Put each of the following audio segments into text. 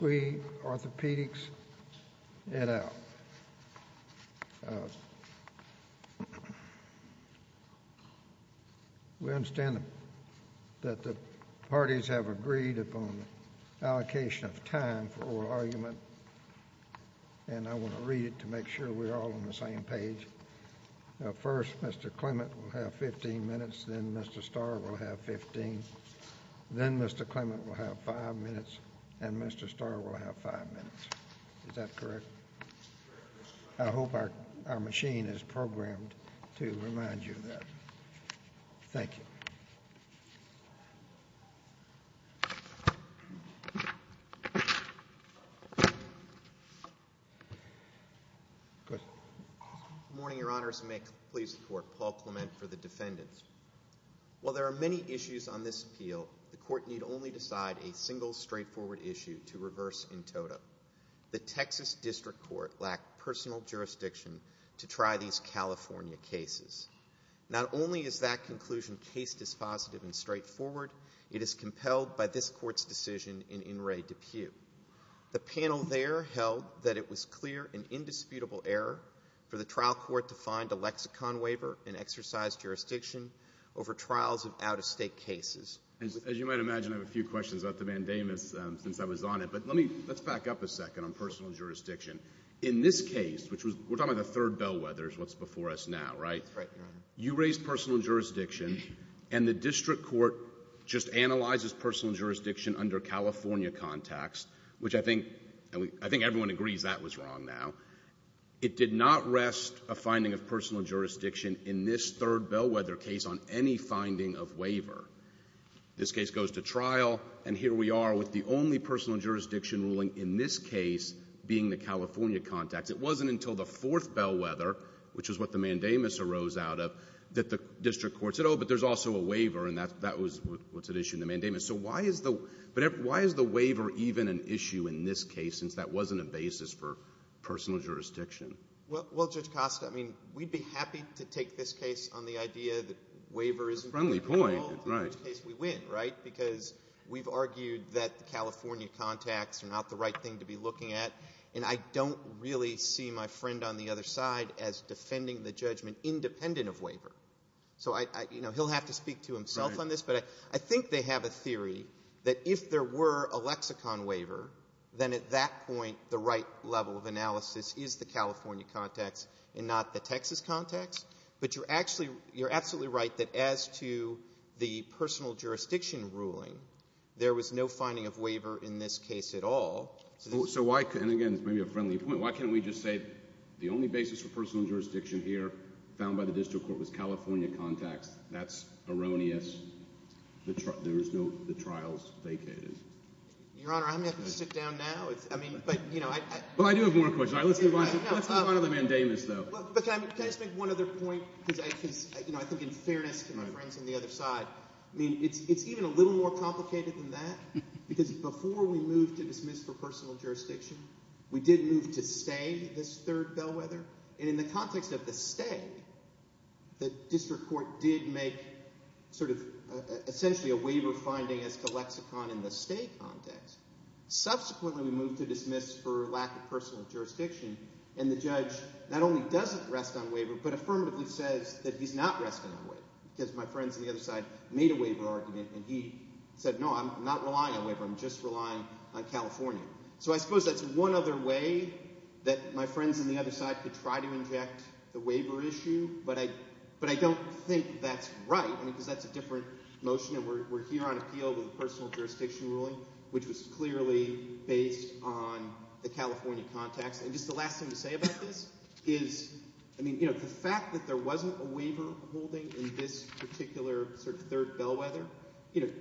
We understand that the parties have agreed upon allocation of time for oral argument and I want to read it to make sure we're all on the same page. First, Mr. Clement will have 15 minutes, then Mr. Starr will have 15, then Mr. Clement will have 5 minutes, and Mr. Starr will have 5 minutes. Is that correct? I hope our machine is programmed to remind you of that. Thank you. Good morning, your honors, and may it please the court, Paul Clement for the defendants. While there are many issues on this appeal, the court need only decide a single straightforward issue to reverse in total. The Texas District Court lacked personal jurisdiction to try these California cases. Not only is that conclusion case dispositive and straightforward, it is compelled by this court's decision in In re DePuy. The panel there held that it was clear and indisputable error for the trial court to find a lexicon waiver and exercise jurisdiction over trials of out-of-state cases. As you might imagine, I have a few questions about the mandamus since I was on it, but let's back up a second on personal jurisdiction. In this case, which we're talking about the third bellwethers, what's before us now, right? Right, your honor. You raised personal jurisdiction and the District Court just analyzes personal jurisdiction under California context, which I think everyone agrees that was wrong now. It did not rest a finding of personal jurisdiction in this third bellwether case on any finding of waiver. This case goes to trial, and here we are with the only personal jurisdiction ruling in this case being the California context. It wasn't until the fourth bellwether, which is what the mandamus arose out of, that the District Court said, oh, but there's also a waiver, and that was what's at issue in the mandamus. So why is the waiver even an issue in this case, since that wasn't a basis for personal jurisdiction? Well, Judge Costa, I mean, we'd be happy to take this case on the idea that waiver isn't at all the only case we win, right? Because we've argued that the California context are not the right thing to be looking at, and I don't really see my friend on the other side as defending the judgment independent of waiver. So he'll have to speak to himself on this, but I think they have a theory that if there were a lexicon waiver, then at that point the right level of analysis is the California context and not the Texas context. But you're absolutely right that as to the personal jurisdiction ruling, there was no finding of waiver in this case at all. So why – and again, this may be a friendly point – why can't we just say the only basis for personal jurisdiction here found by the District Court was California context? That's erroneous. There was no – the trial's vacated. Your Honor, I'm going to have to sit down now. I mean, but – Well, I do have more questions. Let's move on to the mandamus, though. But can I just make one other point? Because I think in fairness to my friends on the other side, I mean it's even a little more complicated than that because before we moved to dismiss for personal jurisdiction, we did move to stay this third bellwether. And in the context of the stay, the District Court did make sort of essentially a waiver finding as to lexicon in the stay context. Subsequently, we moved to dismiss for lack of personal jurisdiction, and the judge not only doesn't rest on waiver but affirmatively says that he's not resting on waiver because my friends on the other side made a waiver argument, and he said, no, I'm not relying on waiver. I'm just relying on California. So I suppose that's one other way that my friends on the other side could try to inject the waiver issue, but I don't think that's right because that's a different motion. We're here on appeal with a personal jurisdiction ruling, which was clearly based on the California context. And just the last thing to say about this is, I mean, the fact that there wasn't a waiver holding in this particular sort of third bellwether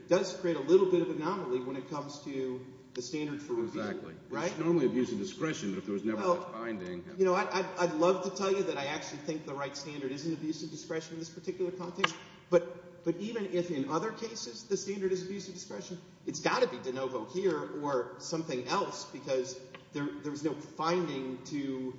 does create a little bit of anomaly when it comes to the standard for appeal. Exactly. Right? It's normally abuse of discretion if there was never a binding. You know, I'd love to tell you that I actually think the right standard isn't abuse of discretion in this particular context. But even if in other cases the standard is abuse of discretion, it's got to be de novo here or something else because there's no finding to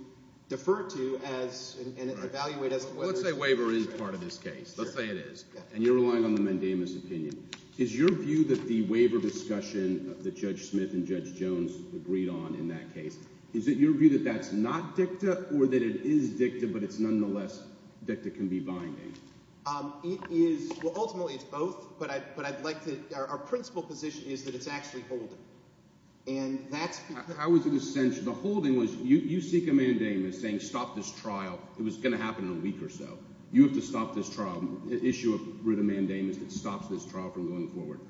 defer to and evaluate as to whether it's— Let's say waiver is part of this case. Sure. Let's say it is. And you're relying on the mandamus opinion. Is your view that the waiver discussion that Judge Smith and Judge Jones agreed on in that case, is it your view that that's not dicta or that it is dicta but it's nonetheless dicta can be binding? It is—well, ultimately it's both, but I'd like to—our principal position is that it's actually holding. And that's— How is it essential? The holding was you seek a mandamus saying stop this trial. It was going to happen in a week or so. You have to stop this trial, issue a writ of mandamus that stops this trial from going forward.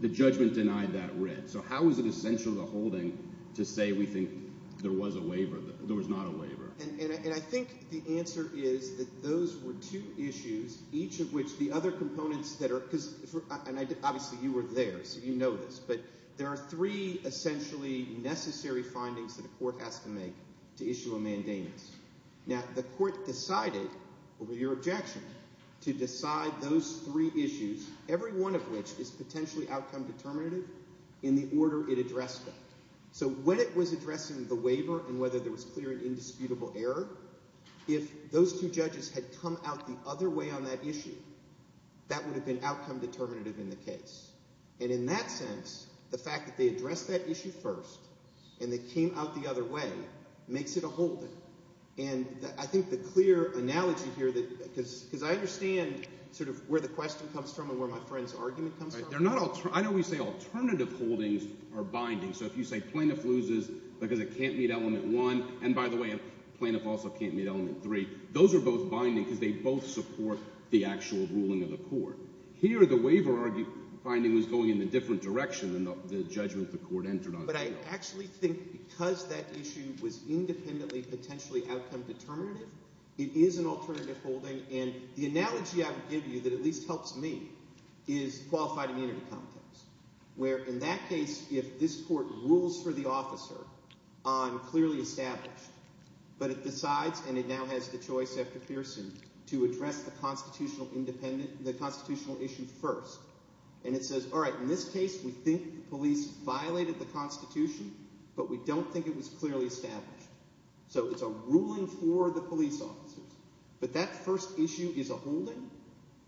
The judgment denied that writ. So how is it essential, the holding, to say we think there was a waiver, there was not a waiver? And I think the answer is that those were two issues, each of which the other components that are—and obviously you were there, so you know this. But there are three essentially necessary findings that a court has to make to issue a mandamus. Now, the court decided, over your objection, to decide those three issues, every one of which is potentially outcome determinative in the order it addressed them. So when it was addressing the waiver and whether there was clear and indisputable error, if those two judges had come out the other way on that issue, that would have been outcome determinative in the case. And in that sense, the fact that they addressed that issue first and they came out the other way makes it a holding. And I think the clear analogy here that – because I understand sort of where the question comes from and where my friend's argument comes from. I always say alternative holdings are binding. So if you say plaintiff loses because it can't meet element one, and by the way, plaintiff also can't meet element three, those are both binding because they both support the actual ruling of the court. Here the waiver finding was going in a different direction than the judgment the court entered on. But I actually think because that issue was independently potentially outcome determinative, it is an alternative holding. And the analogy I would give you that at least helps me is qualified immunity context, where in that case, if this court rules for the officer on clearly established, but it decides and it now has the choice after Pearson to address the constitutional independent – the constitutional issue first. And it says, all right, in this case we think the police violated the constitution, but we don't think it was clearly established. So it's a ruling for the police officers. But that first issue is a holding,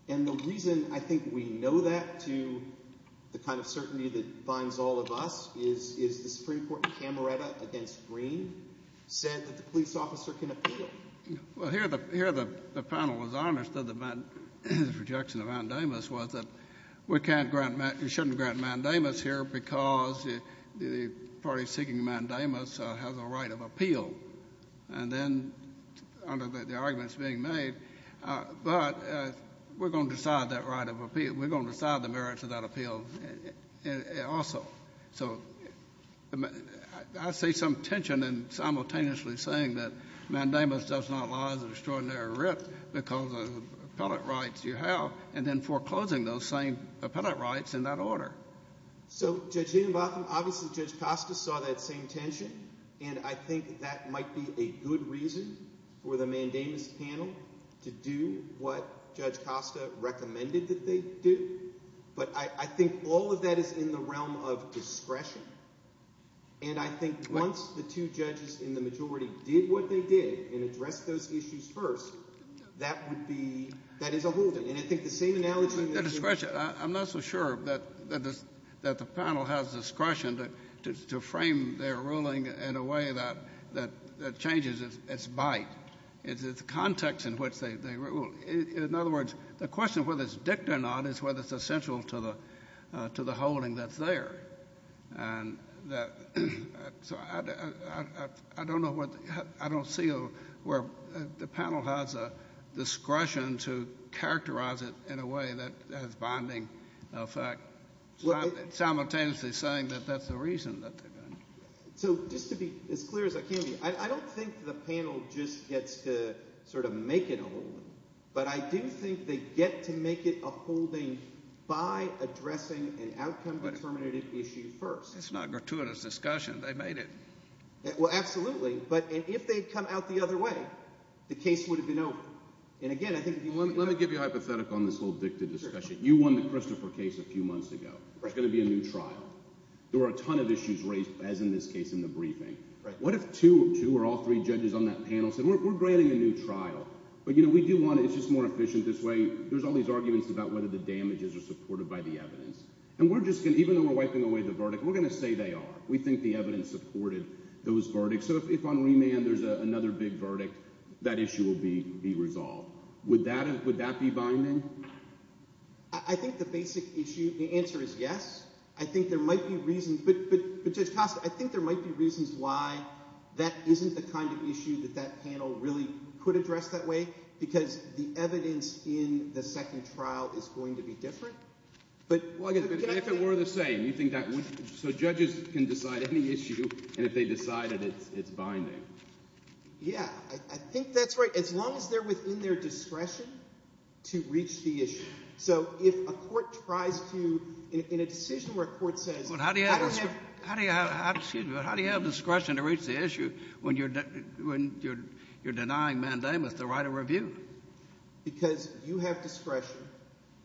and the reason I think we know that to the kind of certainty that binds all of us is the Supreme Court camerata against Green. Green said that the police officer can appeal. Well, here the panel was honest that the projection of mandamus was that we can't grant – we shouldn't grant mandamus here because the party seeking mandamus has a right of appeal. And then under the arguments being made, but we're going to decide that right of appeal. We're going to decide the merits of that appeal also. So I see some tension in simultaneously saying that mandamus does not lie as an extraordinary writ because of the appellate rights you have, and then foreclosing those same appellate rights in that order. So Judge Hiddenbotham, obviously Judge Costa saw that same tension, and I think that might be a good reason for the mandamus panel to do what Judge Costa recommended that they do. But I think all of that is in the realm of discretion, and I think once the two judges in the majority did what they did and addressed those issues first, that would be – that is a holding. And I think the same analogy – The discretion – I'm not so sure that the panel has discretion to frame their ruling in a way that changes its bite, its context in which they rule. In other words, the question of whether it's dict or not is whether it's essential to the holding that's there. And so I don't know what – I don't see where the panel has a discretion to characterize it in a way that has bonding effect simultaneously saying that that's the reason that they're going to do it. So just to be as clear as I can be, I don't think the panel just gets to sort of make it a holding. But I do think they get to make it a holding by addressing an outcome-determinative issue first. That's not a gratuitous discussion. They made it. Well, absolutely. But if they had come out the other way, the case would have been over. And again, I think – Well, let me give you a hypothetical on this whole dicta discussion. You won the Christopher case a few months ago. There's going to be a new trial. There were a ton of issues raised, as in this case in the briefing. What if two or all three judges on that panel said we're granting a new trial, but we do want it. It's just more efficient this way. There's all these arguments about whether the damages are supported by the evidence. And we're just going to – even though we're wiping away the verdict, we're going to say they are. We think the evidence supported those verdicts. So if on remand there's another big verdict, that issue will be resolved. Would that be binding? I think the basic issue – the answer is yes. I think there might be reasons – but Judge Costa, I think there might be reasons why that isn't the kind of issue that that panel really could address that way because the evidence in the second trial is going to be different. But – If it were the same, you think that would – so judges can decide any issue, and if they decide it, it's binding. Yeah, I think that's right. As long as they're within their discretion to reach the issue. So if a court tries to – in a decision where a court says – How do you have discretion to reach the issue when you're denying mandamus the right of review? Because you have discretion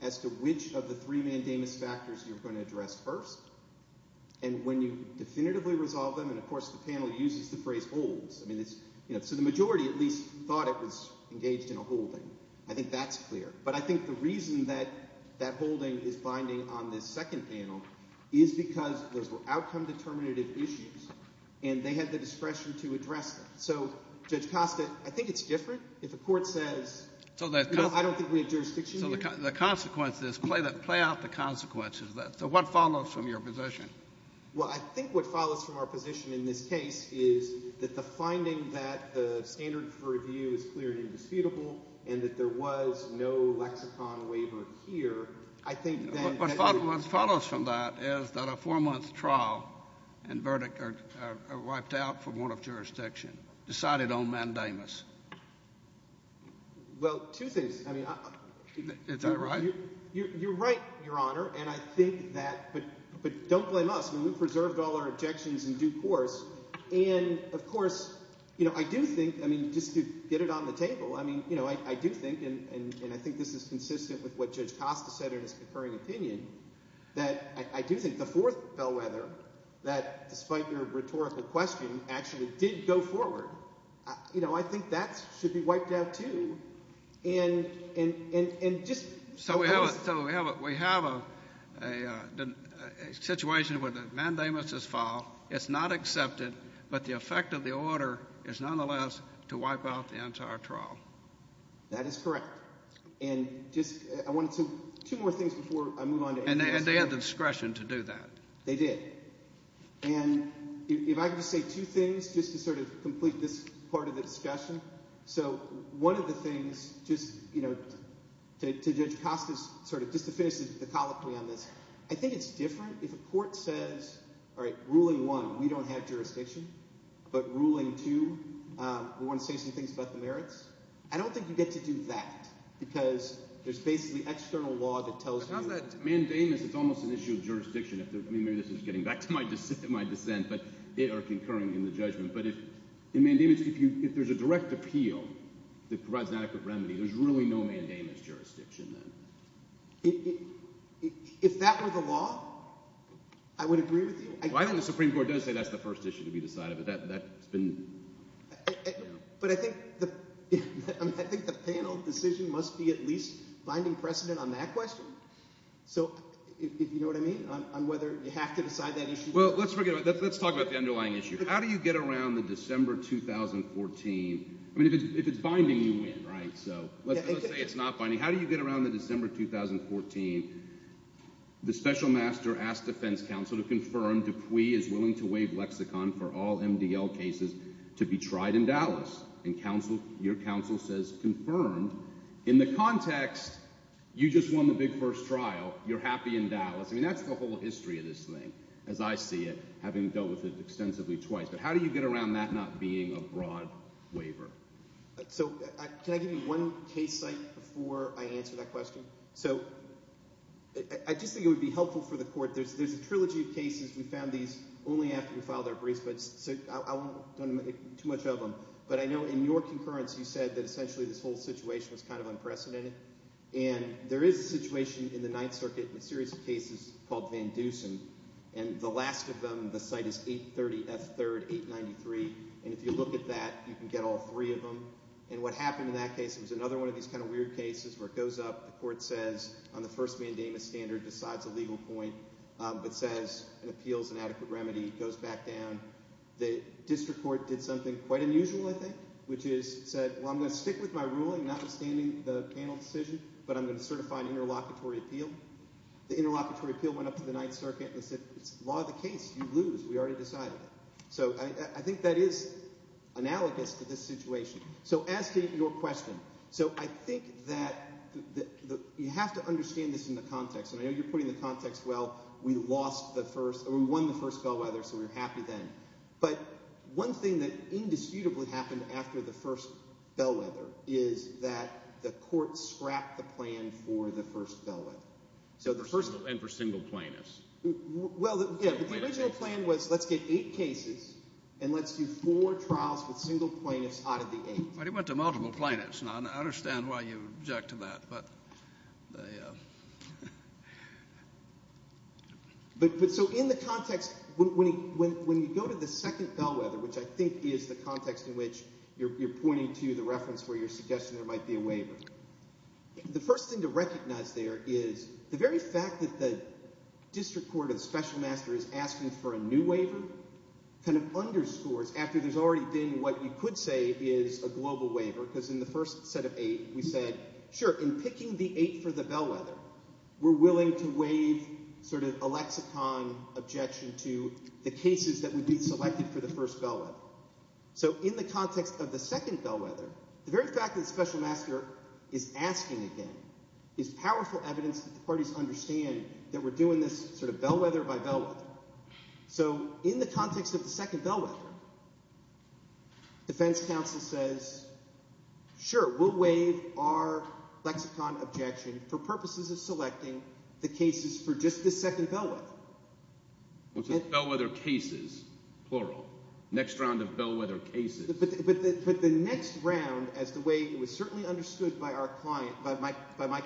as to which of the three mandamus factors you're going to address first. And when you definitively resolve them – and of course the panel uses the phrase holds. So the majority at least thought it was engaged in a holding. I think that's clear. But I think the reason that that holding is binding on this second panel is because those were outcome-determinative issues, and they had the discretion to address them. So, Judge Costa, I think it's different if a court says, no, I don't think we have jurisdiction here. So the consequence is – play out the consequences of that. So what follows from your position? Well, I think what follows from our position in this case is that the finding that the standard for review is clear and indisputable and that there was no lexicon waiver here, I think then – What follows from that is that a four-month trial and verdict are wiped out for warrant of jurisdiction, decided on mandamus. Well, two things. I mean – Is that right? You're right, Your Honor, and I think that – but don't blame us. I mean we've preserved all our objections in due course. And, of course, I do think – I mean just to get it on the table, I mean I do think, and I think this is consistent with what Judge Costa said in his concurring opinion, that I do think the fourth bellwether that, despite your rhetorical question, actually did go forward, I think that should be wiped out too. And just – So we have a situation where the mandamus is filed. It's not accepted, but the effect of the order is nonetheless to wipe out the entire trial. That is correct. And just – I wanted to – two more things before I move on to anything else. And they had the discretion to do that. They did. And if I could just say two things just to sort of complete this part of the discussion. So one of the things, just to Judge Costa's sort of – just to finish the colloquy on this, I think it's different if a court says, all right, ruling one, we don't have jurisdiction, but ruling two, we want to say some things about the merits. I don't think you get to do that because there's basically external law that tells you – But on that mandamus, it's almost an issue of jurisdiction. I mean maybe this is getting back to my dissent, but – or concurring in the judgment. But if – in mandamus, if there's a direct appeal that provides an adequate remedy, there's really no mandamus jurisdiction then. If that were the law, I would agree with you. Well, I think the Supreme Court does say that's the first issue to be decided, but that's been – But I think the panel decision must be at least finding precedent on that question. So if you know what I mean on whether you have to decide that issue. Well, let's talk about the underlying issue. How do you get around the December 2014 – I mean if it's binding, you win, right? So let's say it's not binding. How do you get around the December 2014, the special master asked defense counsel to confirm Dupuy is willing to waive lexicon for all MDL cases to be tried in Dallas? And counsel – your counsel says confirmed. In the context, you just won the big first trial. You're happy in Dallas. I mean that's the whole history of this thing, as I see it, having dealt with it extensively twice. But how do you get around that not being a broad waiver? So can I give you one case site before I answer that question? So I just think it would be helpful for the court. There's a trilogy of cases. We found these only after we filed our briefs, so I won't go into too much of them. But I know in your concurrence you said that essentially this whole situation was kind of unprecedented. And there is a situation in the Ninth Circuit, a series of cases called Van Dusen. And the last of them, the site is 830 F. 3rd, 893. And if you look at that, you can get all three of them. And what happened in that case was another one of these kind of weird cases where it goes up, the court says, on the first mandamus standard, decides a legal point, but says an appeal is an adequate remedy. It goes back down. The district court did something quite unusual, I think, which is said, well, I'm going to stick with my ruling, notwithstanding the panel decision, but I'm going to certify an interlocutory appeal. The interlocutory appeal went up to the Ninth Circuit and said it's law of the case. You lose. We already decided it. So I think that is analogous to this situation. So asking your question, so I think that you have to understand this in the context. And I know you're putting the context, well, we lost the first – or we won the first bellwether, so we're happy then. But one thing that indisputably happened after the first bellwether is that the court scrapped the plan for the first bellwether. And for single plaintiffs. Well, yeah, but the original plan was let's get eight cases and let's do four trials with single plaintiffs out of the eight. But it went to multiple plaintiffs, and I understand why you object to that. But so in the context, when you go to the second bellwether, which I think is the context in which you're pointing to the reference where you're suggesting there might be a waiver, the first thing to recognize there is the very fact that the district court or the special master is asking for a new waiver kind of underscores, after there's already been what you could say is a global waiver, because in the first set of eight we said, sure, in picking the eight for the bellwether, we're willing to waive sort of a lexicon objection to the cases that would be selected for the first bellwether. So in the context of the second bellwether, the very fact that the special master is asking again is powerful evidence that the parties understand that we're doing this sort of bellwether by bellwether. So in the context of the second bellwether, defense counsel says, sure, we'll waive our lexicon objection for purposes of selecting the cases for just the second bellwether. Bellwether cases, plural. Next round of bellwether cases. But the next round, as the way it was certainly understood by our client, by my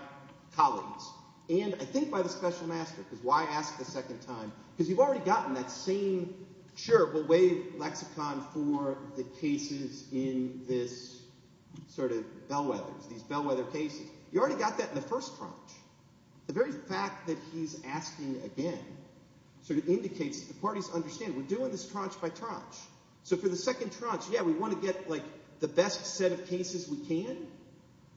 colleagues, and I think by the special master, because why ask the second time? Because you've already gotten that same, sure, we'll waive lexicon for the cases in this sort of bellwethers, these bellwether cases. You already got that in the first tranche. The very fact that he's asking again sort of indicates that the parties understand we're doing this tranche by tranche. So for the second tranche, yeah, we want to get like the best set of cases we can.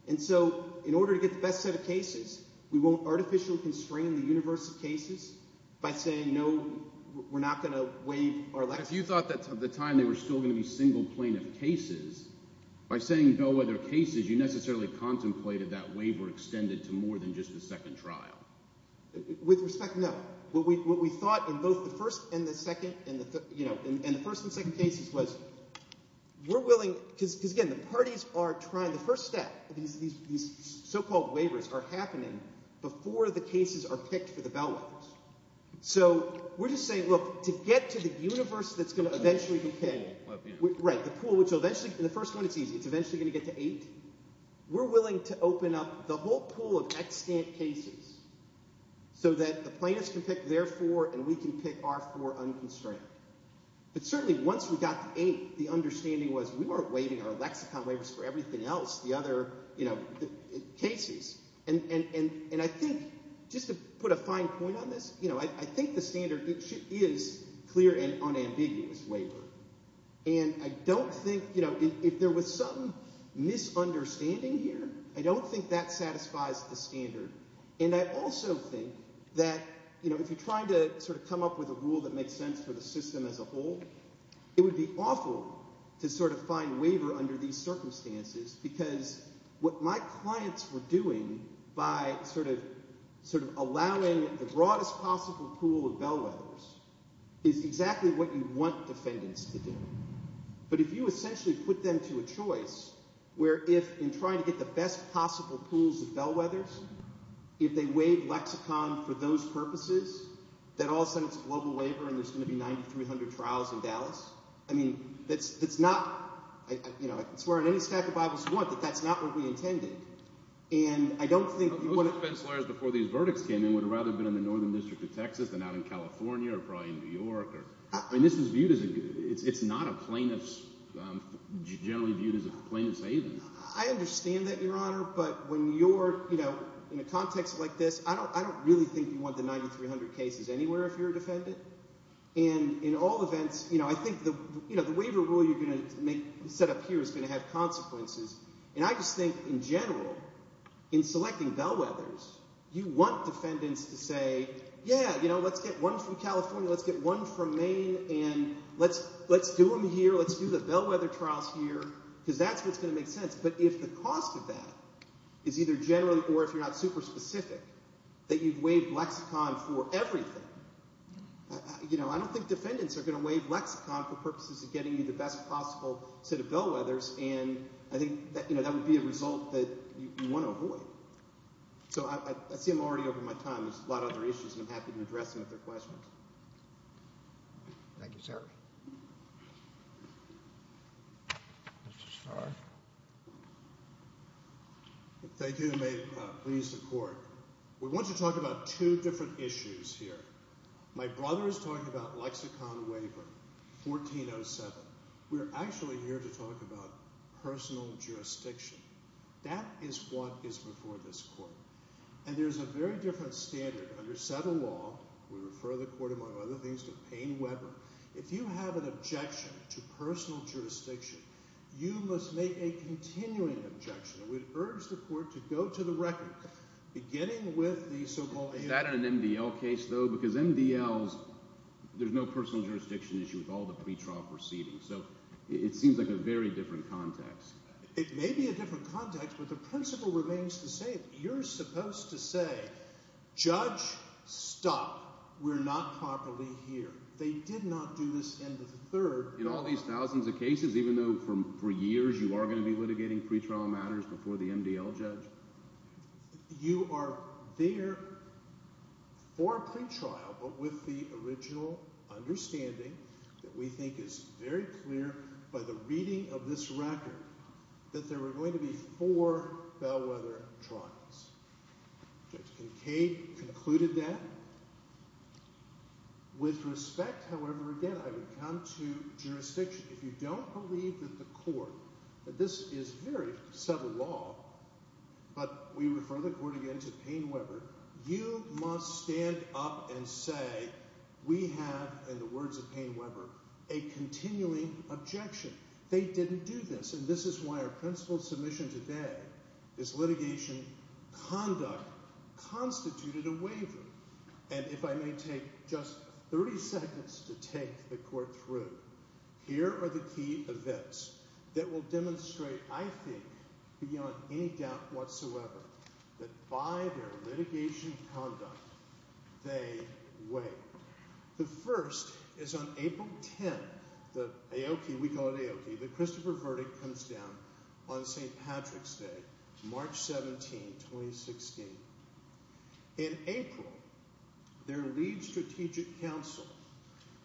And so in order to get the best set of cases, we won't artificially constrain the universe of cases by saying, no, we're not going to waive our lexicon. If you thought that at the time they were still going to be single plaintiff cases, by saying bellwether cases, you necessarily contemplated that waiver extended to more than just the second trial. With respect, no. What we thought in both the first and the second and the first and second cases was we're willing because, again, the parties are trying the first step. These so-called waivers are happening before the cases are picked for the bellwethers. So we're just saying, look, to get to the universe that's going to eventually be paid. Right, the pool, which will eventually – in the first one it's easy. It's eventually going to get to eight. We're willing to open up the whole pool of extant cases so that the plaintiffs can pick their four and we can pick our four unconstrained. But certainly once we got to eight, the understanding was we weren't waiving our lexicon waivers for everything else, the other cases. And I think – just to put a fine point on this – I think the standard is clear and unambiguous waiver. And I don't think – if there was some misunderstanding here, I don't think that satisfies the standard. And I also think that if you're trying to sort of come up with a rule that makes sense for the system as a whole, it would be awful to sort of find waiver under these circumstances because what my clients were doing by sort of allowing the broadest possible pool of bellwethers is exactly what you want defendants to do. But if you essentially put them to a choice where if – in trying to get the best possible pools of bellwethers, if they waive lexicon for those purposes, then all of a sudden it's a global waiver and there's going to be 9,300 trials in Dallas. I mean that's not – I swear on any stack of Bibles you want that that's not what we intended. And I don't think – Most defense lawyers before these verdicts came in would have rather been in the northern district of Texas than out in California or probably in New York. I mean this is viewed as a – it's not a plaintiff's – generally viewed as a plaintiff's haven. I understand that, Your Honor, but when you're in a context like this, I don't really think you want the 9,300 cases anywhere if you're a defendant. And in all events, I think the waiver rule you're going to set up here is going to have consequences. And I just think in general, in selecting bellwethers, you want defendants to say, yeah, let's get one from California, let's get one from Maine, and let's do them here, let's do the bellwether trials here because that's what's going to make sense. But if the cost of that is either generally or if you're not super specific that you've waived lexicon for everything, I don't think defendants are going to waive lexicon for purposes of getting you the best possible set of bellwethers. And I think that would be a result that you want to avoid. So I see I'm already over my time. There's a lot of other issues, and I'm happy to address them if there are questions. Thank you, sir. Mr. Starr. Thank you, and may it please the court. We want to talk about two different issues here. My brother is talking about lexicon waiver, 1407. We're actually here to talk about personal jurisdiction. That is what is before this court. And there's a very different standard. Under Settle Law, we refer the court, among other things, to Payne-Webber. If you have an objection to personal jurisdiction, you must make a continuing objection. And we'd urge the court to go to the record, beginning with the so-called amendment. Is that an MDL case, though? Because MDLs, there's no personal jurisdiction issue with all the pretrial proceedings. So it seems like a very different context. It may be a different context, but the principle remains the same. You're supposed to say, Judge, stop. We're not properly here. They did not do this in the third trial. In all these thousands of cases, even though for years you are going to be litigating pretrial matters before the MDL judge? You are there for a pretrial, but with the original understanding that we think is very clear by the reading of this record that there were going to be four Bellwether trials. Judge Kincaid concluded that. With respect, however, again, I would come to jurisdiction. If you don't believe that the court, that this is very subtle law, but we refer the court again to Payne-Webber, you must stand up and say we have, in the words of Payne-Webber, a continuing objection. They didn't do this. And this is why our principle submission today is litigation conduct constituted a waiver. And if I may take just 30 seconds to take the court through, here are the key events that will demonstrate, I think, beyond any doubt whatsoever, that by their litigation conduct, they wait. The first is on April 10, the Aoki, we call it Aoki, the Christopher verdict comes down on St. Patrick's Day, March 17, 2016. In April, their lead strategic counsel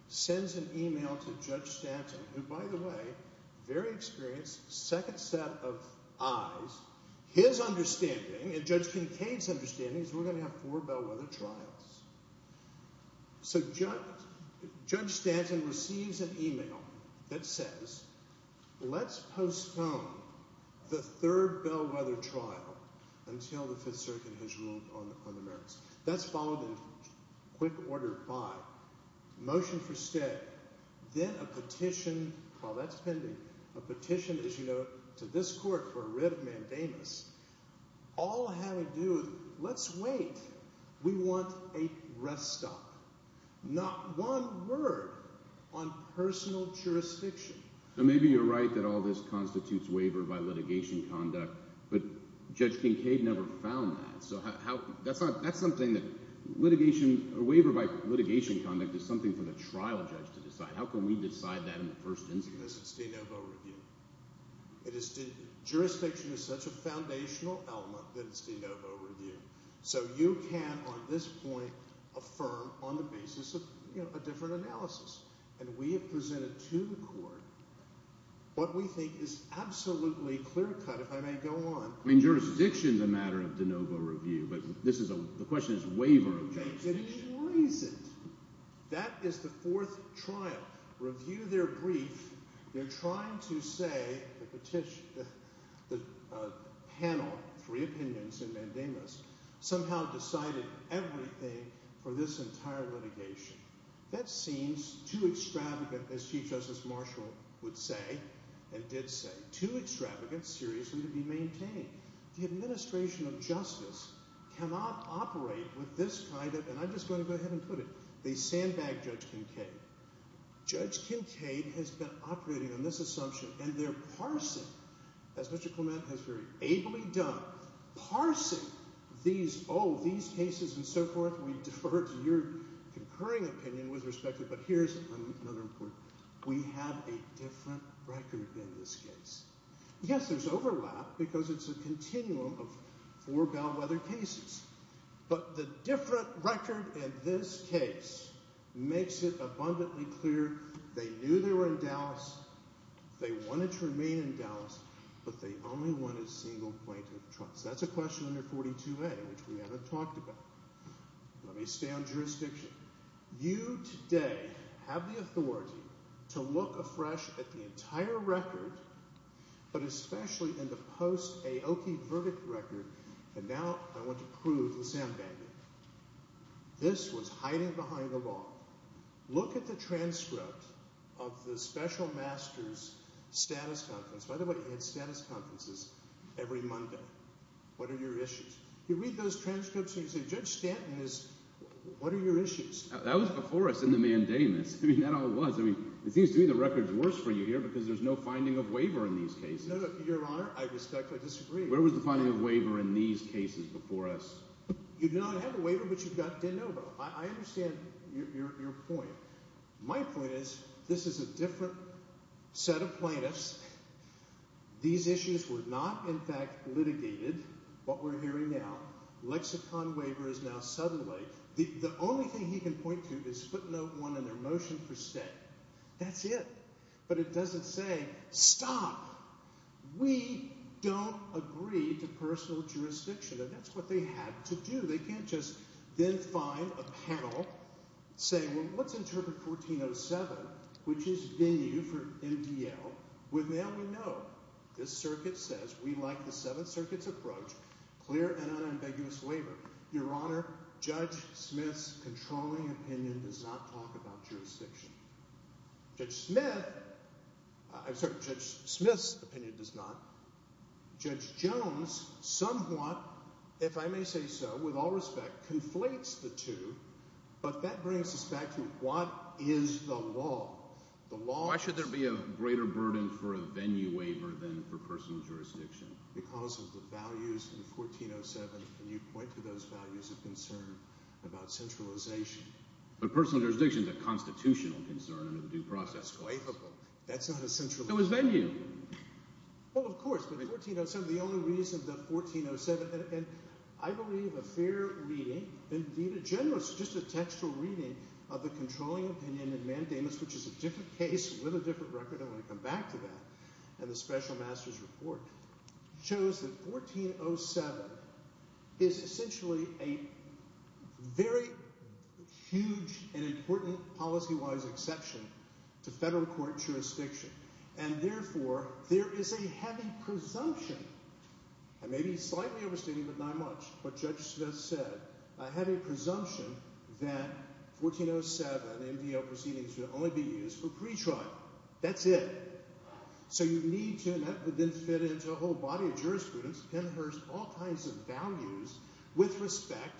sends an email to Judge Stanton, who, by the way, very experienced, second set of eyes, his understanding and Judge Kincaid's understanding is we're going to have four Bellwether trials. So Judge Stanton receives an email that says let's postpone the third Bellwether trial until the Fifth Circuit has ruled on the merits. That's followed in quick order by motion for stay. Then a petition, well, that's pending, a petition, as you know, to this court for a writ of mandamus. All I have to do is let's wait. We want a rest stop, not one word on personal jurisdiction. Maybe you're right that all this constitutes waiver by litigation conduct, but Judge Kincaid never found that. So that's something that litigation or waiver by litigation conduct is something for the trial judge to decide. How can we decide that in the first instance? Jurisdiction is such a foundational element that it's de novo review. So you can, on this point, affirm on the basis of a different analysis. And we have presented to the court what we think is absolutely clear-cut, if I may go on. I mean jurisdiction is a matter of de novo review, but this is a – the question is waiver of jurisdiction. That is the fourth trial. Review their brief. They're trying to say the panel, three opinions and mandamus, somehow decided everything for this entire litigation. That seems too extravagant, as Chief Justice Marshall would say and did say, too extravagant, serious, and to be maintained. The administration of justice cannot operate with this kind of – and I'm just going to go ahead and put it. They sandbagged Judge Kincaid. Judge Kincaid has been operating on this assumption, and they're parsing, as Mr. Clement has very ably done, parsing these cases and so forth. We defer to your concurring opinion with respect to it, but here's another important – we have a different record in this case. Yes, there's overlap because it's a continuum of four bellwether cases, but the different record in this case makes it abundantly clear. They knew they were in Dallas. They wanted to remain in Dallas, but they only wanted a single plaintiff trial. So that's a question under 42A, which we haven't talked about. Let me stay on jurisdiction. You today have the authority to look afresh at the entire record, but especially in the post-Aoki verdict record. And now I want to prove the sandbagging. This was hiding behind the law. Look at the transcript of the special master's status conference. By the way, he had status conferences every Monday. What are your issues? You read those transcripts and you say, Judge Stanton has – what are your issues? That was before us in the mandamus. I mean, that all was. I mean, it seems to me the record's worse for you here because there's no finding of waiver in these cases. No, no, Your Honor. I respectfully disagree. Where was the finding of waiver in these cases before us? You do not have a waiver, but you've got de novo. I understand your point. My point is this is a different set of plaintiffs. These issues were not, in fact, litigated. What we're hearing now, lexicon waiver is now southerly. The only thing he can point to is footnote one in their motion for stay. That's it. But it doesn't say stop. We don't agree to personal jurisdiction. And that's what they had to do. They can't just then find a panel saying, well, let's interpret 1407, which is venue for MDL, with now we know. This circuit says we like the Seventh Circuit's approach, clear and unambiguous waiver. Your Honor, Judge Smith's controlling opinion does not talk about jurisdiction. Judge Smith – I'm sorry, Judge Smith's opinion does not. Judge Jones somewhat, if I may say so, with all respect, conflates the two, but that brings us back to what is the law? Why should there be a greater burden for a venue waiver than for personal jurisdiction? Because of the values in 1407, and you point to those values of concern about centralization. But personal jurisdiction is a constitutional concern under the due process. That's not a centralization. So is venue. Well, of course, but 1407 – the only reason that 1407 – and I believe a fair reading, indeed a generous, just a textual reading of the controlling opinion in Mandamus, which is a different case with a different record, and I'm going to come back to that, in the special master's report, shows that 1407 is essentially a very huge and important policy-wise exception to federal court jurisdiction. And therefore, there is a heavy presumption – I may be slightly overstating, but not much – but Judge Smith said, I have a presumption that 1407 MVL proceedings should only be used for pretrial. That's it. So you need to – and that would then fit into a whole body of jurisprudence, penhurst, all kinds of values, with respect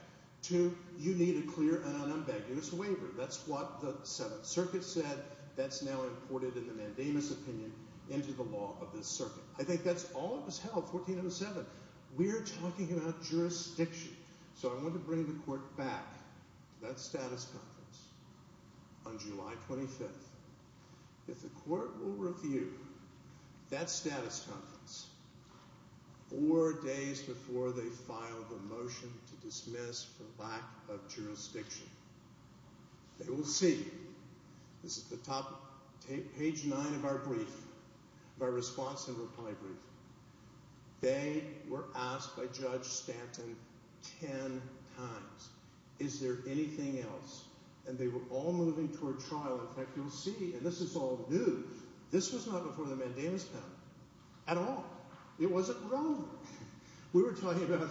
to you need a clear and unambiguous waiver. That's what the Seventh Circuit said. That's now imported in the Mandamus opinion into the law of this circuit. I think that's all that was held, 1407. We're talking about jurisdiction. So I want to bring the court back to that status conference on July 25th. If the court will review that status conference four days before they file the motion to dismiss for lack of jurisdiction, they will see – this is the top – page nine of our brief, of our response and reply brief. They were asked by Judge Stanton ten times, is there anything else? And they were all moving toward trial. In fact, you'll see – and this is all new – this was not before the Mandamus panel at all. It wasn't relevant. We were talking about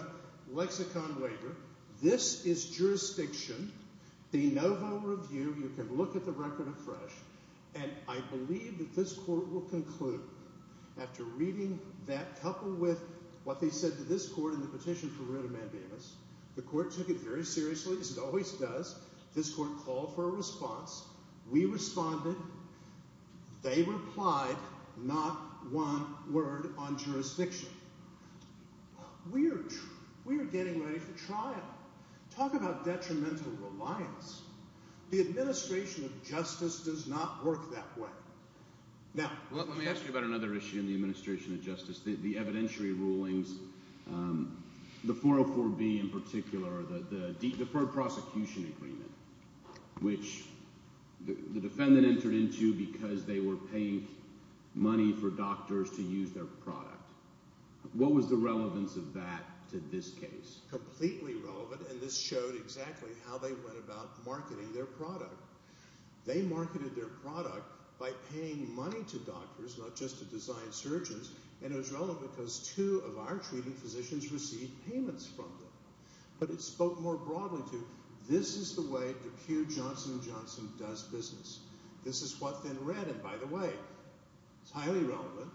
lexicon waiver. This is jurisdiction. They know how to review. You can look at the record afresh. And I believe that this court will conclude after reading that couple with what they said to this court in the petition for writ of Mandamus. The court took it very seriously, as it always does. This court called for a response. We responded. They replied. Not one word on jurisdiction. We are getting ready for trial. Talk about detrimental reliance. The administration of justice does not work that way. Now – Let me ask you about another issue in the administration of justice, the evidentiary rulings, the 404B in particular, the deferred prosecution agreement, which the defendant entered into because they were paying money for doctors to use their product. What was the relevance of that to this case? Completely relevant, and this showed exactly how they went about marketing their product. They marketed their product by paying money to doctors, not just to design surgeons, and it was relevant because two of our treating physicians received payments from them. But it spoke more broadly to this is the way that Pew, Johnson & Johnson does business. This is what they read, and by the way, it's highly relevant.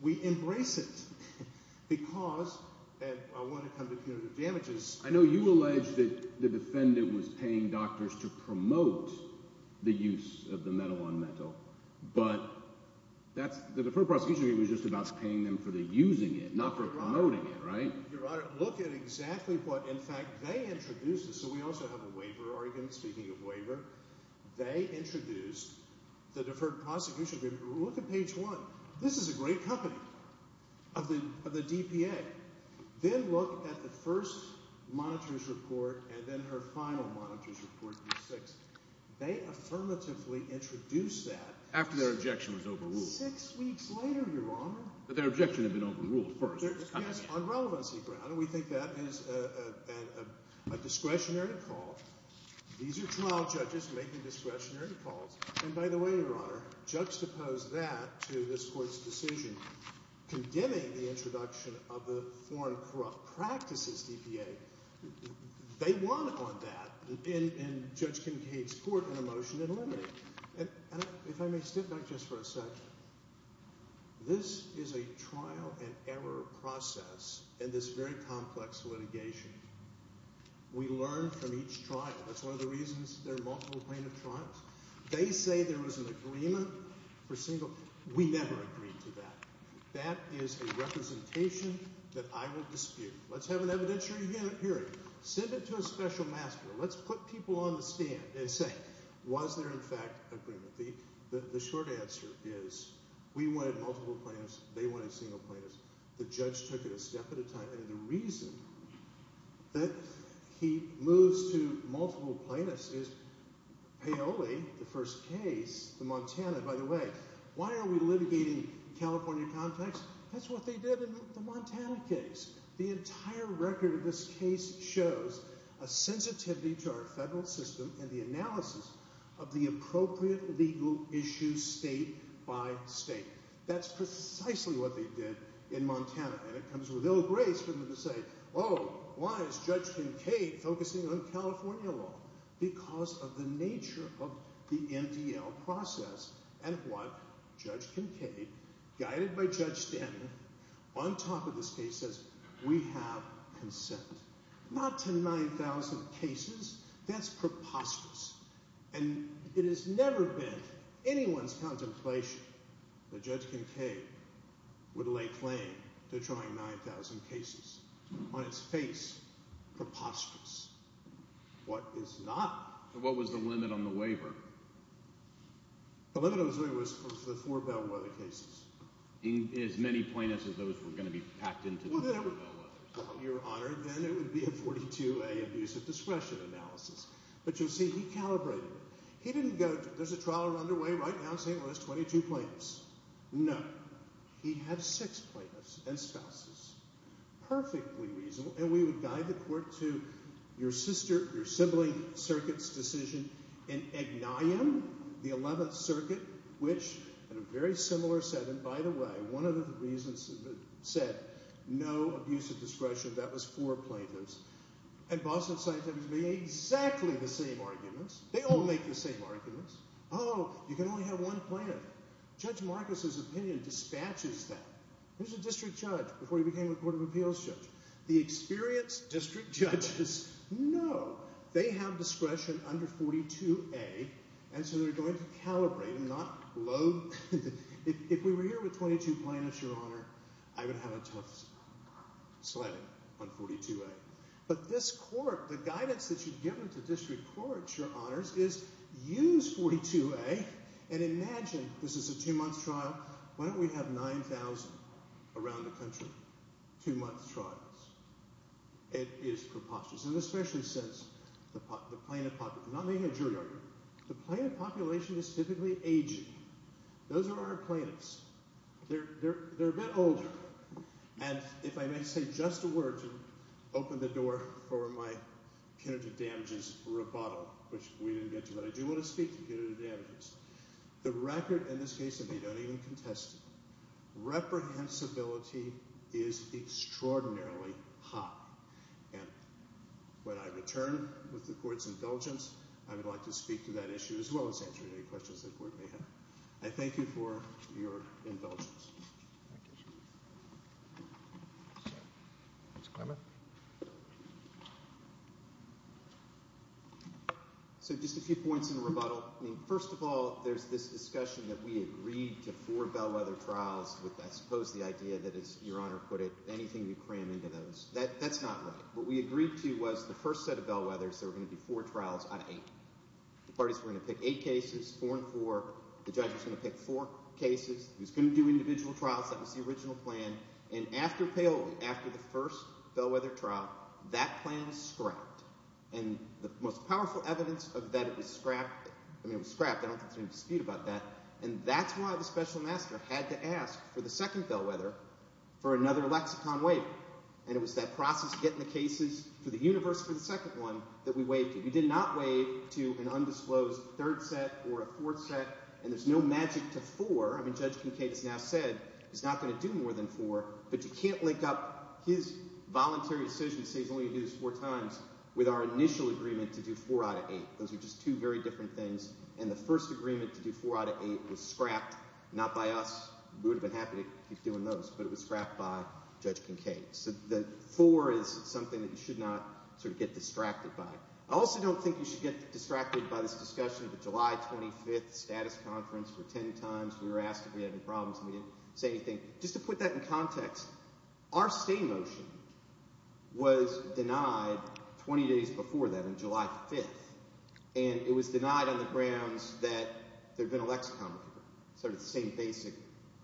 We embrace it because – and I want to come to punitive damages. I know you allege that the defendant was paying doctors to promote the use of the metal on metal, but that's – the deferred prosecution agreement was just about paying them for using it, not for promoting it, right? Your Honor, look at exactly what, in fact, they introduced. So we also have a waiver argument. Speaking of waiver, they introduced the deferred prosecution agreement. Look at page one. This is a great company of the DPA. Then look at the first monitor's report and then her final monitor's report, page six. They affirmatively introduced that. After their objection was overruled. Six weeks later, Your Honor. But their objection had been overruled first. Yes, on relevancy grounds. We think that is a discretionary call. These are trial judges making discretionary calls. And by the way, Your Honor, juxtapose that to this court's decision condemning the introduction of the Foreign Corrupt Practices DPA. They won on that, and Judge Kincaid's court in a motion eliminated it. And if I may step back just for a second, this is a trial and error process in this very complex litigation. We learn from each trial. That's one of the reasons there are multiple plaintiff trials. They say there was an agreement for single – we never agreed to that. That is a representation that I will dispute. Let's have an evidentiary hearing. Send it to a special master. Let's put people on the stand and say, was there, in fact, agreement? The short answer is we wanted multiple plaintiffs. They wanted single plaintiffs. The judge took it a step at a time. And the reason that he moves to multiple plaintiffs is Paoli, the first case, the Montana, by the way. Why are we litigating California context? That's what they did in the Montana case. The entire record of this case shows a sensitivity to our federal system and the analysis of the appropriate legal issues state by state. That's precisely what they did in Montana. And it comes with ill grace for them to say, oh, why is Judge Kincaid focusing on California law? Because of the nature of the MDL process and what Judge Kincaid, guided by Judge Stanton, on top of this case says we have consent. Not to 9,000 cases. That's preposterous. And it has never been anyone's contemplation that Judge Kincaid would lay claim to trying 9,000 cases. On its face, preposterous. What is not? What was the limit on the waiver? The limit on the waiver was for the four Bellwether cases. As many plaintiffs as those were going to be packed into the Bellwether. Your Honor, then it would be a 42A abuse of discretion analysis. But you see, he calibrated it. He didn't go, there's a trial underway right now saying there's 22 plaintiffs. No. He had six plaintiffs and spouses. Perfectly reasonable, and we would guide the court to your sister, your sibling circuit's decision in Igniam, the 11th circuit, which in a very similar setting, by the way, one of the reasons it said no abuse of discretion, that was for plaintiffs. And Boston Scientifics made exactly the same arguments. They all make the same arguments. Oh, you can only have one plaintiff. Judge Marcus's opinion dispatches that. He was a district judge before he became a court of appeals judge. The experienced district judges know. They have discretion under 42A, and so they're going to calibrate and not load. If we were here with 22 plaintiffs, Your Honor, I would have a tough sledding on 42A. But this court, the guidance that you've given to district courts, Your Honors, is use 42A and imagine this is a two-month trial. Why don't we have 9,000 around the country, two-month trials? It is preposterous, and especially since the plaintiff population – I'm not making a jury argument. The plaintiff population is typically aging. Those are our plaintiffs. They're a bit older. And if I may say just a word to open the door for my punitive damages rebuttal, which we didn't get to, but I do want to speak to punitive damages. The record in this case that they don't even contest it. Reprehensibility is extraordinarily high. And when I return with the court's indulgence, I would like to speak to that issue as well as answer any questions the court may have. I thank you for your indulgence. So just a few points in rebuttal. First of all, there's this discussion that we agreed to four bellwether trials with, I suppose, the idea that, as Your Honor put it, anything you cram into those. That's not right. What we agreed to was the first set of bellwethers, there were going to be four trials out of eight. The parties were going to pick eight cases, four and four. The judge was going to pick four cases. He was going to do individual trials. That was the original plan. And after the first bellwether trial, that plan scrapped. And the most powerful evidence of that was scrapped. I mean it was scrapped. I don't think there's any dispute about that. And that's why the special master had to ask for the second bellwether for another lexicon waiver. And it was that process of getting the cases for the universe for the second one that we waived it. We did not waive to an undisclosed third set or a fourth set. And there's no magic to four. I mean Judge Kincaid has now said he's not going to do more than four, but you can't link up his voluntary decision to say he's only going to do this four times. With our initial agreement to do four out of eight. Those are just two very different things. And the first agreement to do four out of eight was scrapped not by us. We would have been happy to keep doing those, but it was scrapped by Judge Kincaid. So the four is something that you should not sort of get distracted by. I also don't think you should get distracted by this discussion of the July 25th status conference for ten times. We were asked if we had any problems, and we didn't say anything. Just to put that in context, our stay motion was denied 20 days before that on July 5th. And it was denied on the grounds that there had been a lexicon waiver. Sort of the same basic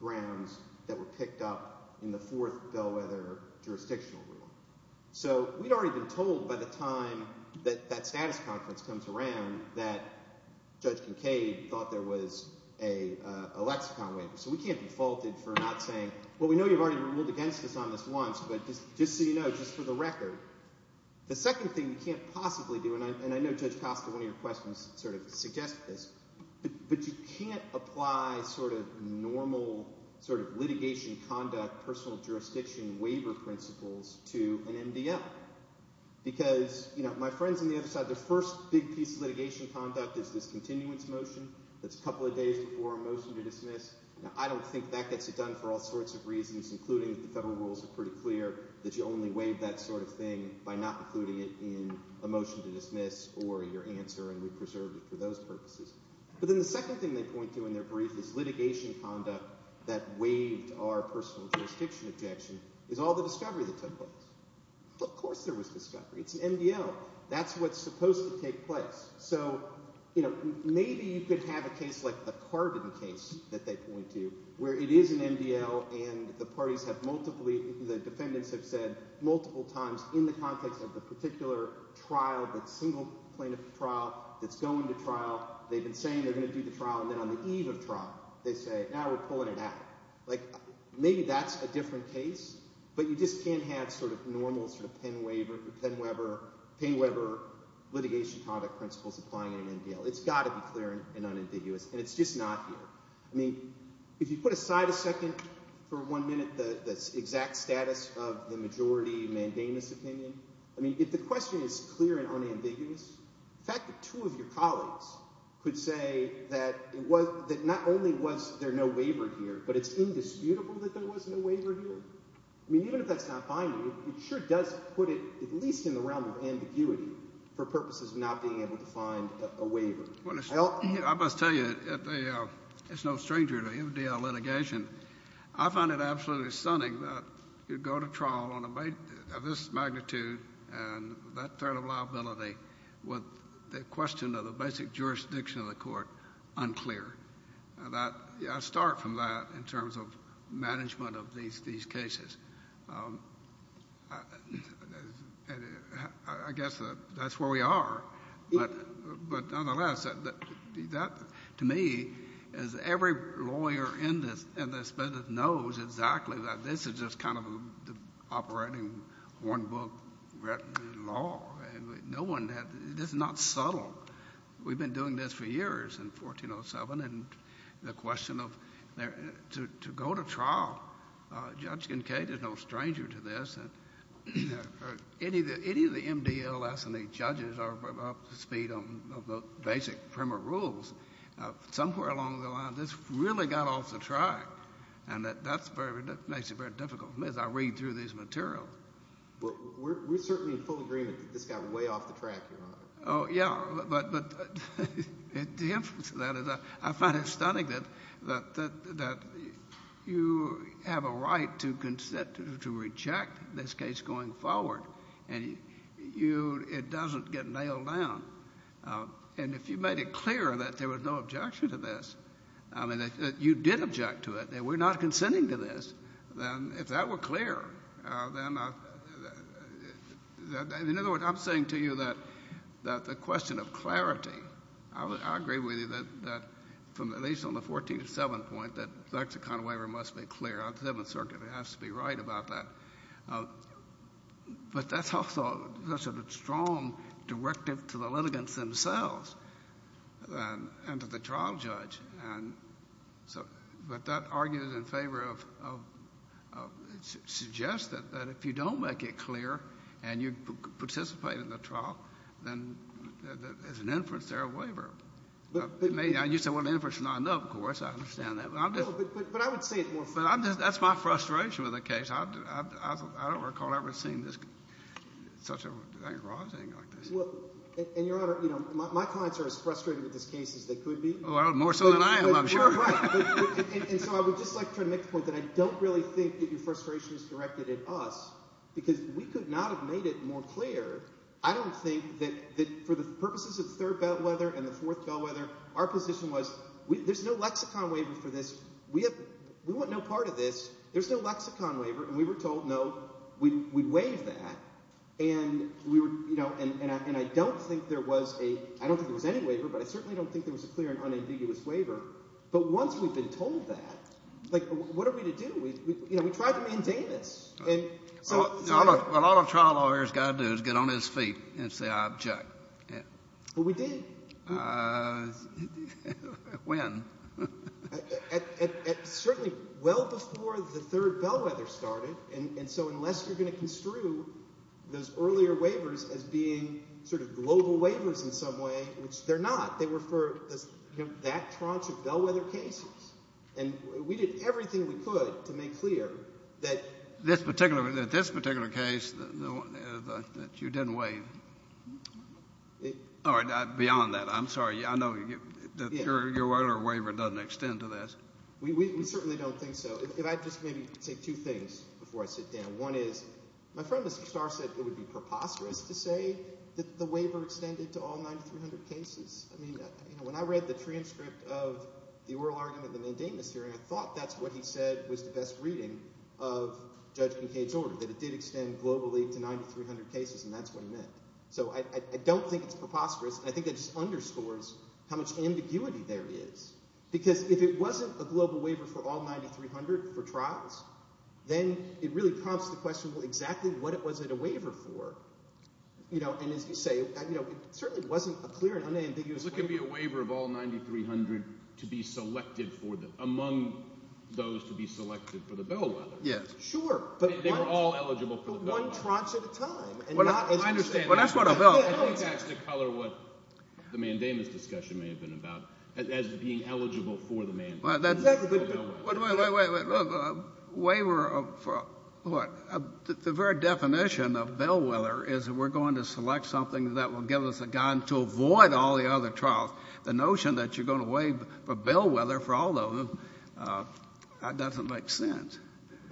grounds that were picked up in the fourth Bellwether jurisdictional ruling. So we'd already been told by the time that that status conference comes around that Judge Kincaid thought there was a lexicon waiver. So we can't be faulted for not saying, well, we know you've already ruled against us on this once, but just so you know, just for the record. The second thing you can't possibly do, and I know Judge Costa, one of your questions sort of suggested this. But you can't apply sort of normal sort of litigation conduct, personal jurisdiction waiver principles to an MDL. Because my friends on the other side, their first big piece of litigation conduct is this continuance motion. That's a couple of days before a motion to dismiss. Now I don't think that gets it done for all sorts of reasons, including the federal rules are pretty clear that you only waive that sort of thing by not including it in a motion to dismiss or your answer. And we preserved it for those purposes. But then the second thing they point to in their brief is litigation conduct that waived our personal jurisdiction objection is all the discovery that took place. Of course there was discovery. It's an MDL. That's what's supposed to take place. So maybe you could have a case like the Carbon case that they point to where it is an MDL and the parties have multiple – the defendants have said multiple times in the context of the particular trial, the single plaintiff trial that's going to trial. They've been saying they're going to do the trial, and then on the eve of trial they say, now we're pulling it out. Maybe that's a different case, but you just can't have sort of normal sort of Penn Weber litigation conduct principles applying in an MDL. It's got to be clear and unambiguous, and it's just not here. I mean if you put aside a second for one minute the exact status of the majority mandamus opinion. I mean if the question is clear and unambiguous, the fact that two of your colleagues could say that it was – that not only was there no waiver here, but it's indisputable that there was no waiver here. I mean even if that's not binding, it sure does put it at least in the realm of ambiguity for purposes of not being able to find a waiver. Well, I must tell you, it's no stranger to MDL litigation. I find it absolutely stunning that you go to trial of this magnitude and that sort of liability with the question of the basic jurisdiction of the court unclear. I start from that in terms of management of these cases. I guess that's where we are. But nonetheless, that to me is every lawyer in this business knows exactly that this is just kind of operating one book law. No one has – this is not subtle. We've been doing this for years in 1407. And the question of – to go to trial, Judge Kincaid is no stranger to this. Any of the MDLS and the judges are up to speed on the basic primer rules. Somewhere along the line, this really got off the track. And that makes it very difficult for me as I read through these materials. Well, we're certainly in full agreement that this got way off the track, Your Honor. Oh, yeah. But the influence of that is I find it stunning that you have a right to consent to reject this case going forward. And you – it doesn't get nailed down. And if you made it clear that there was no objection to this, I mean, that you did object to it, that we're not consenting to this, then if that were clear, then – in other words, I'm saying to you that the question of clarity, I agree with you that from at least on the 1407 point that the Executive Waiver must be clear. On the Seventh Circuit, it has to be right about that. But that's also such a strong directive to the litigants themselves and to the trial judge. But that argues in favor of – suggests that if you don't make it clear and you participate in the trial, then as an inference, they're a waiver. You say, well, inference is not enough. Of course, I understand that. But I'm just – No, but I would say it more – But I'm just – that's my frustration with the case. I don't recall ever seeing such a thing arising like this. And, Your Honor, my clients are as frustrated with this case as they could be. Well, more so than I am, I'm sure. You're right. And so I would just like to try to make the point that I don't really think that your frustration is directed at us because we could not have made it more clear. I don't think that for the purposes of the third bellwether and the fourth bellwether, our position was there's no lexicon waiver for this. We want no part of this. There's no lexicon waiver. And we were told, no, we'd waive that. And we were – and I don't think there was a – I don't think there was any waiver, but I certainly don't think there was a clear and unambiguous waiver. But once we've been told that, like what are we to do? We tried to maintain this. A lot of trial lawyers have got to do is get on his feet and say I object. Well, we did. When? Certainly well before the third bellwether started. And so unless you're going to construe those earlier waivers as being sort of global waivers in some way, which they're not, they were for that tranche of bellwether cases. And we did everything we could to make clear that this particular case, that you didn't waive. Or beyond that. I'm sorry. I know your earlier waiver doesn't extend to this. We certainly don't think so. If I could just maybe say two things before I sit down. One is my friend Mr. Starr said it would be preposterous to say that the waiver extended to all 9,300 cases. I mean when I read the transcript of the oral argument in the Mandamus hearing, I thought that's what he said was the best reading of Judge Kincaid's order, that it did extend globally to 9,300 cases, and that's what he meant. So I don't think it's preposterous. I think it just underscores how much ambiguity there is. Because if it wasn't a global waiver for all 9,300 for trials, then it really prompts the question, well, exactly what was it a waiver for? And as you say, it certainly wasn't a clear and unambiguous waiver. It could be a waiver of all 9,300 to be selected for the – among those to be selected for the bellwether. Yes. Sure. They were all eligible for the bellwether. One tranche at a time. I understand that. Well, that's what a bell – I think that's to color what the Mandamus discussion may have been about, as being eligible for the mandamus. Exactly. Wait, wait, wait. Waiver of what? The very definition of bellwether is we're going to select something that will give us a gun to avoid all the other trials. The notion that you're going to waive a bellwether for all of them, that doesn't make sense.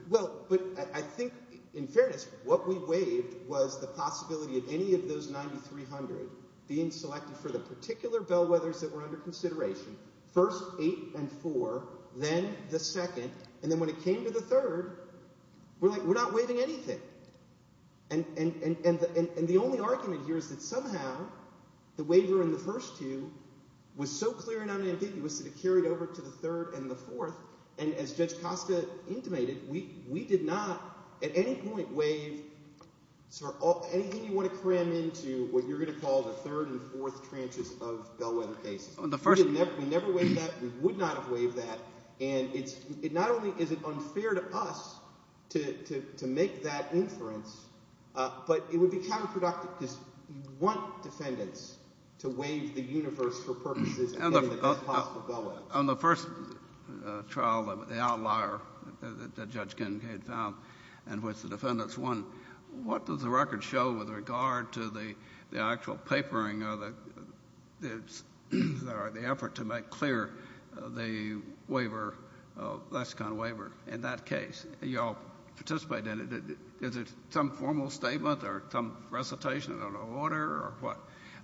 Well, but I think in fairness what we waived was the possibility of any of those 9,300 being selected for the particular bellwethers that were under consideration, first eight and four, then the second, and then when it came to the third, we're like we're not waiving anything. And the only argument here is that somehow the waiver in the first two was so clear and unambiguous that it carried over to the third and the fourth, and as Judge Costa intimated, we did not at any point waive anything you want to cram into what you're going to call the third and fourth tranches of bellwether cases. We never waived that. We would not have waived that. And not only is it unfair to us to make that inference, but it would be counterproductive because you want defendants to waive the universe for purposes of any of the possible bellwethers. On the first trial, the outlier that Judge Kincaid found in which the defendants won, what does the record show with regard to the actual papering or the effort to make clear the waiver, Lascon waiver in that case? You all participate in it. Is it some formal statement or some recitation of an order or what?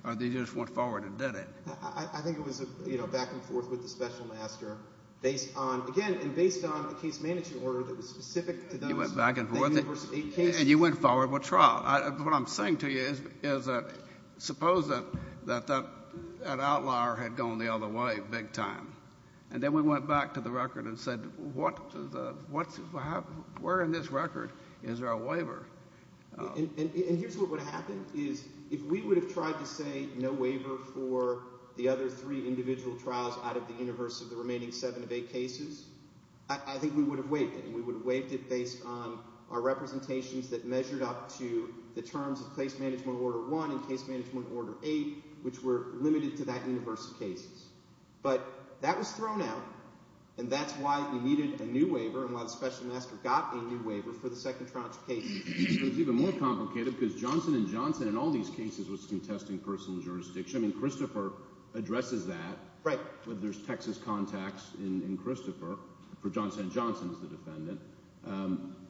Or they just went forward and did it? I think it was, you know, back and forth with the special master based on, again, and based on a case-managing order that was specific to those university cases. You went back and forth and you went forward with trial. What I'm saying to you is suppose that that outlier had gone the other way big time, and then we went back to the record and said where in this record is there a waiver? And here's what would have happened is if we would have tried to say no waiver for the other three individual trials out of the universe of the remaining seven of eight cases, I think we would have waived it. We would have waived it based on our representations that measured up to the terms of case-management order one and case-management order eight, which were limited to that universe of cases. But that was thrown out, and that's why we needed a new waiver and why the special master got a new waiver for the second trial case. It was even more complicated because Johnson & Johnson in all these cases was contesting personal jurisdiction. I mean Christopher addresses that. Right. There's Texas contacts in Christopher for Johnson & Johnson as the defendant.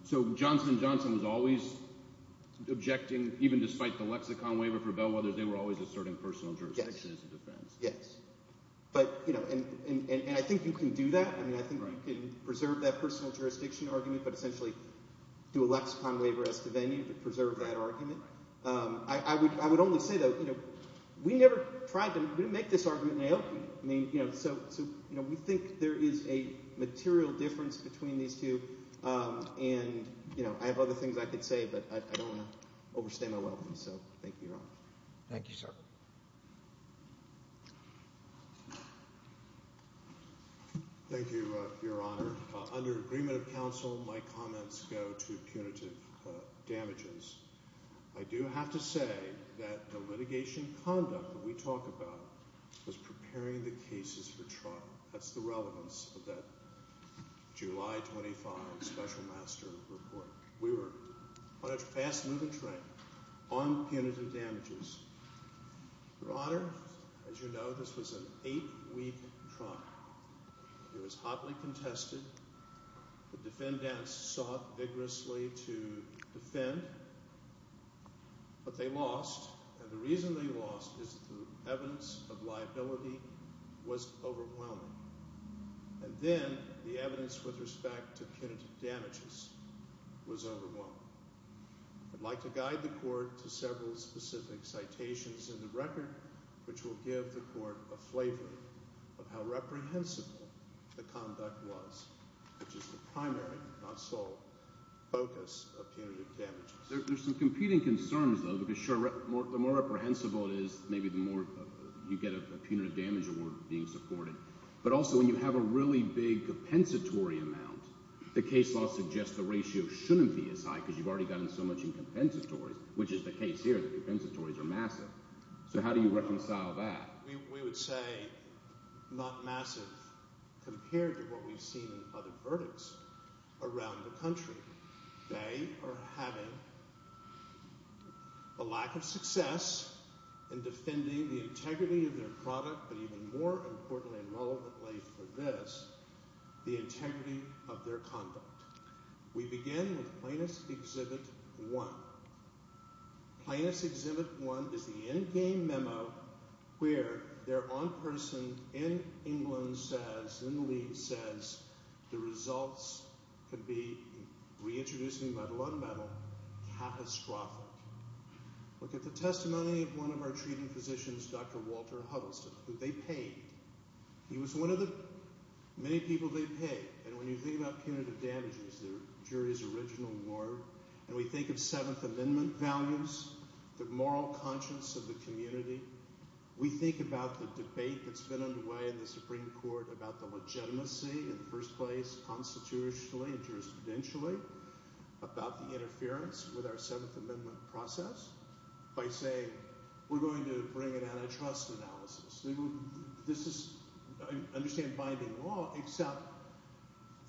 So Johnson & Johnson was always objecting even despite the lexicon waiver for Bellwethers. They were always asserting personal jurisdiction as a defense. Yes. But, you know, and I think you can do that. I mean I think you can preserve that personal jurisdiction argument but essentially do a lexicon waiver as the venue to preserve that argument. I would only say, though, you know, we never tried to make this argument naivete. I mean, you know, so we think there is a material difference between these two, and, you know, I have other things I could say, but I don't want to overstay my welcome. So thank you, Ron. Thank you, sir. Thank you, Your Honor. Under agreement of counsel, my comments go to punitive damages. I do have to say that the litigation conduct that we talk about was preparing the cases for trial. That's the relevance of that July 25 special master report. We were on a fast moving train on punitive damages. Your Honor, as you know, this was an eight-week trial. It was hotly contested. The defendants sought vigorously to defend, but they lost. And the reason they lost is the evidence of liability was overwhelming. And then the evidence with respect to punitive damages was overwhelming. I'd like to guide the court to several specific citations in the record, which will give the court a flavor of how reprehensible the conduct was, which is the primary, not sole, focus of punitive damages. There's some competing concerns, though, because, sure, the more reprehensible it is, maybe the more you get a punitive damage award being supported. But also when you have a really big compensatory amount, the case law suggests the ratio shouldn't be as high because you've already gotten so much in compensatories, which is the case here. The compensatories are massive. So how do you reconcile that? We would say not massive compared to what we've seen in other verdicts around the country. They are having a lack of success in defending the integrity of their product, but even more importantly and relevantly for this, the integrity of their conduct. We begin with Plaintiff's Exhibit 1. Plaintiff's Exhibit 1 is the endgame memo where their own person in England says, in the lead says, the results could be, reintroduced in level on level, catastrophic. Look at the testimony of one of our treating physicians, Dr. Walter Huddleston, who they paid. He was one of the many people they paid. And when you think about punitive damages, the jury's original award, and we think of Seventh Amendment values, the moral conscience of the community, we think about the debate that's been underway in the Supreme Court about the legitimacy in the first place constitutionally and jurisprudentially about the interference with our Seventh Amendment process by saying we're going to bring an antitrust analysis. This is, I understand, binding law, except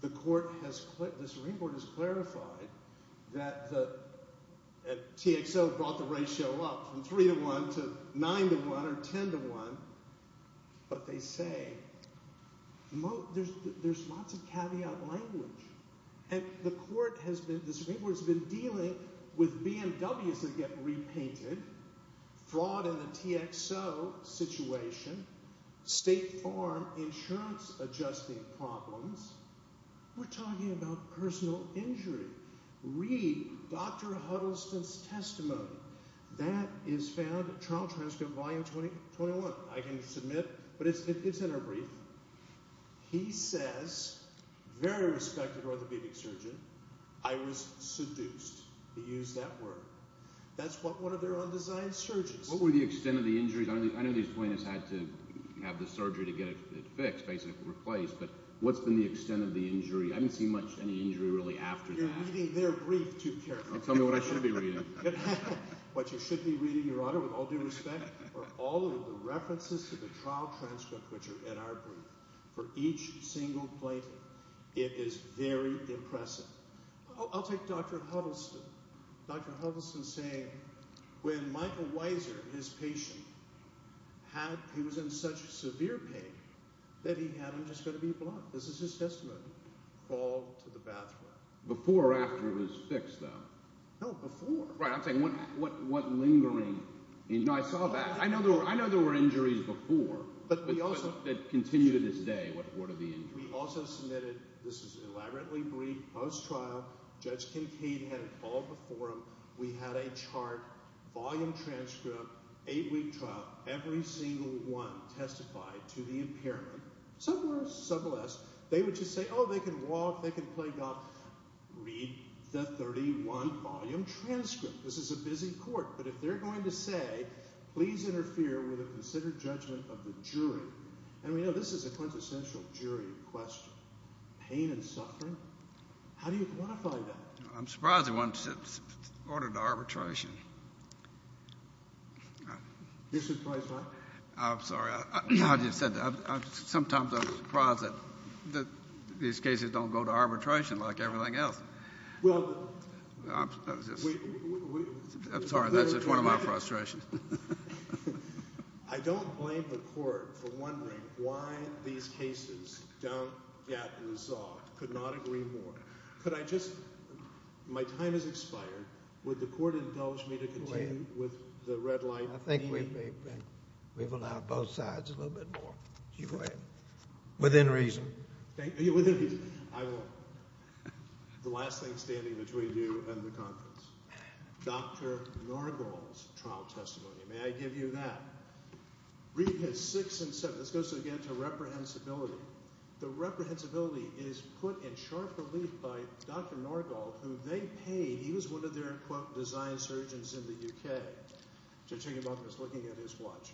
the court has, the Supreme Court has clarified that TXO brought the ratio up from 3 to 1 to 9 to 1 or 10 to 1, but they say there's lots of caveat language. And the Supreme Court has been dealing with BMWs that get repainted, fraud in the TXO situation, State Farm insurance adjusting problems. We're talking about personal injury. Read Dr. Huddleston's testimony. That is found at Trial Transcript, Volume 21. I can submit, but it's in our brief. He says, very respected orthopedic surgeon, I was seduced. He used that word. That's what one of their undesigned surgeons said. What were the extent of the injuries? I know these plaintiffs had to have the surgery to get it fixed, basically replaced, but what's been the extent of the injury? I haven't seen much of any injury really after that. You're reading their brief too carefully. Tell me what I should be reading. What you should be reading, Your Honor, with all due respect, are all of the references to the Trial Transcript which are in our brief. For each single plaintiff, it is very impressive. I'll take Dr. Huddleston. Dr. Huddleston saying when Michael Weiser, his patient, he was in such severe pain that he had him just going to be blood. This is his testimony. Crawled to the bathroom. Before or after it was fixed, though? No, before. Right. I'm saying what lingering injury? No, I saw that. I know there were injuries before that continue to this day. What are the injuries? We also submitted—this is an elaborately briefed post-trial. Judge Kincaid had it all before him. We had a chart, volume transcript, eight-week trial. Every single one testified to the impairment, some worse, some less. They would just say, oh, they can walk, they can play golf. Read the 31-volume transcript. This is a busy court. But if they're going to say, please interfere with a considered judgment of the jury, and we know this is a quintessential jury question, pain and suffering, how do you quantify that? I'm surprised it wasn't ordered arbitration. You're surprised by it? I'm sorry. Sometimes I'm surprised that these cases don't go to arbitration like everything else. Well, we— I'm sorry. That's just one of my frustrations. I don't blame the court for wondering why these cases don't get resolved, could not agree more. Could I just—my time has expired. Would the court indulge me to continue with the red light meeting? I think we've allowed both sides a little bit more. Within reason. Within reason. I will. The last thing standing between you and the conference. Dr. Nargol's trial testimony. May I give you that? Read his six and seven. This goes, again, to reprehensibility. The reprehensibility is put in sharp relief by Dr. Nargol, who they paid. He was one of their, quote, design surgeons in the U.K. So I took him up and was looking at his watch.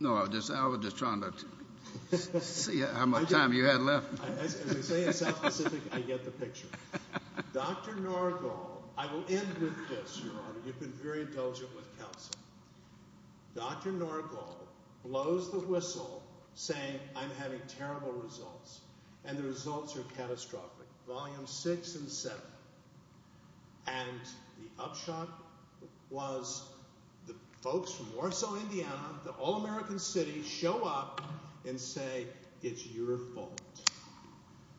No, I was just trying to see how much time you had left. As they say in South Pacific, I get the picture. Dr. Nargol—I will end with this, Your Honor. You've been very intelligent with counsel. Dr. Nargol blows the whistle, saying, I'm having terrible results, and the results are catastrophic. Volume six and seven. And the upshot was the folks from Warsaw, Indiana, the all-American city, show up and say, it's your fault.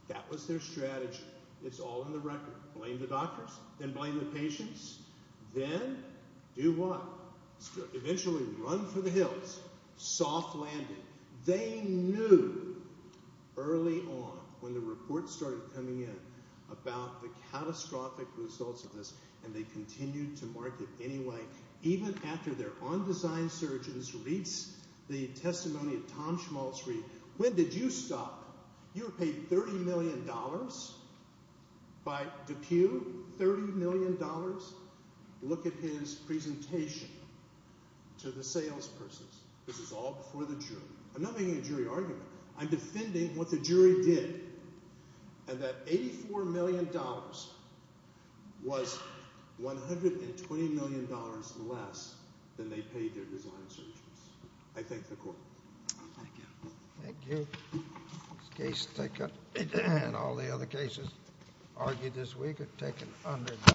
That was their strategy. It's all in the record. Blame the doctors. Then blame the patients. Then do what? Eventually run for the hills. Soft landing. They knew early on when the reports started coming in about the catastrophic results of this, and they continued to market anyway, even after their on-design surgeons reached the testimony of Tom Schmalzried. When did you stop? You were paid $30 million by DePue? $30 million? Look at his presentation to the salespersons. This is all before the jury. I'm not making a jury argument. I'm defending what the jury did, and that $84 million was $120 million less than they paid their design surgeons. I thank the Court. Thank you. Thank you. This case taken, and all the other cases argued this week, are taken under duress.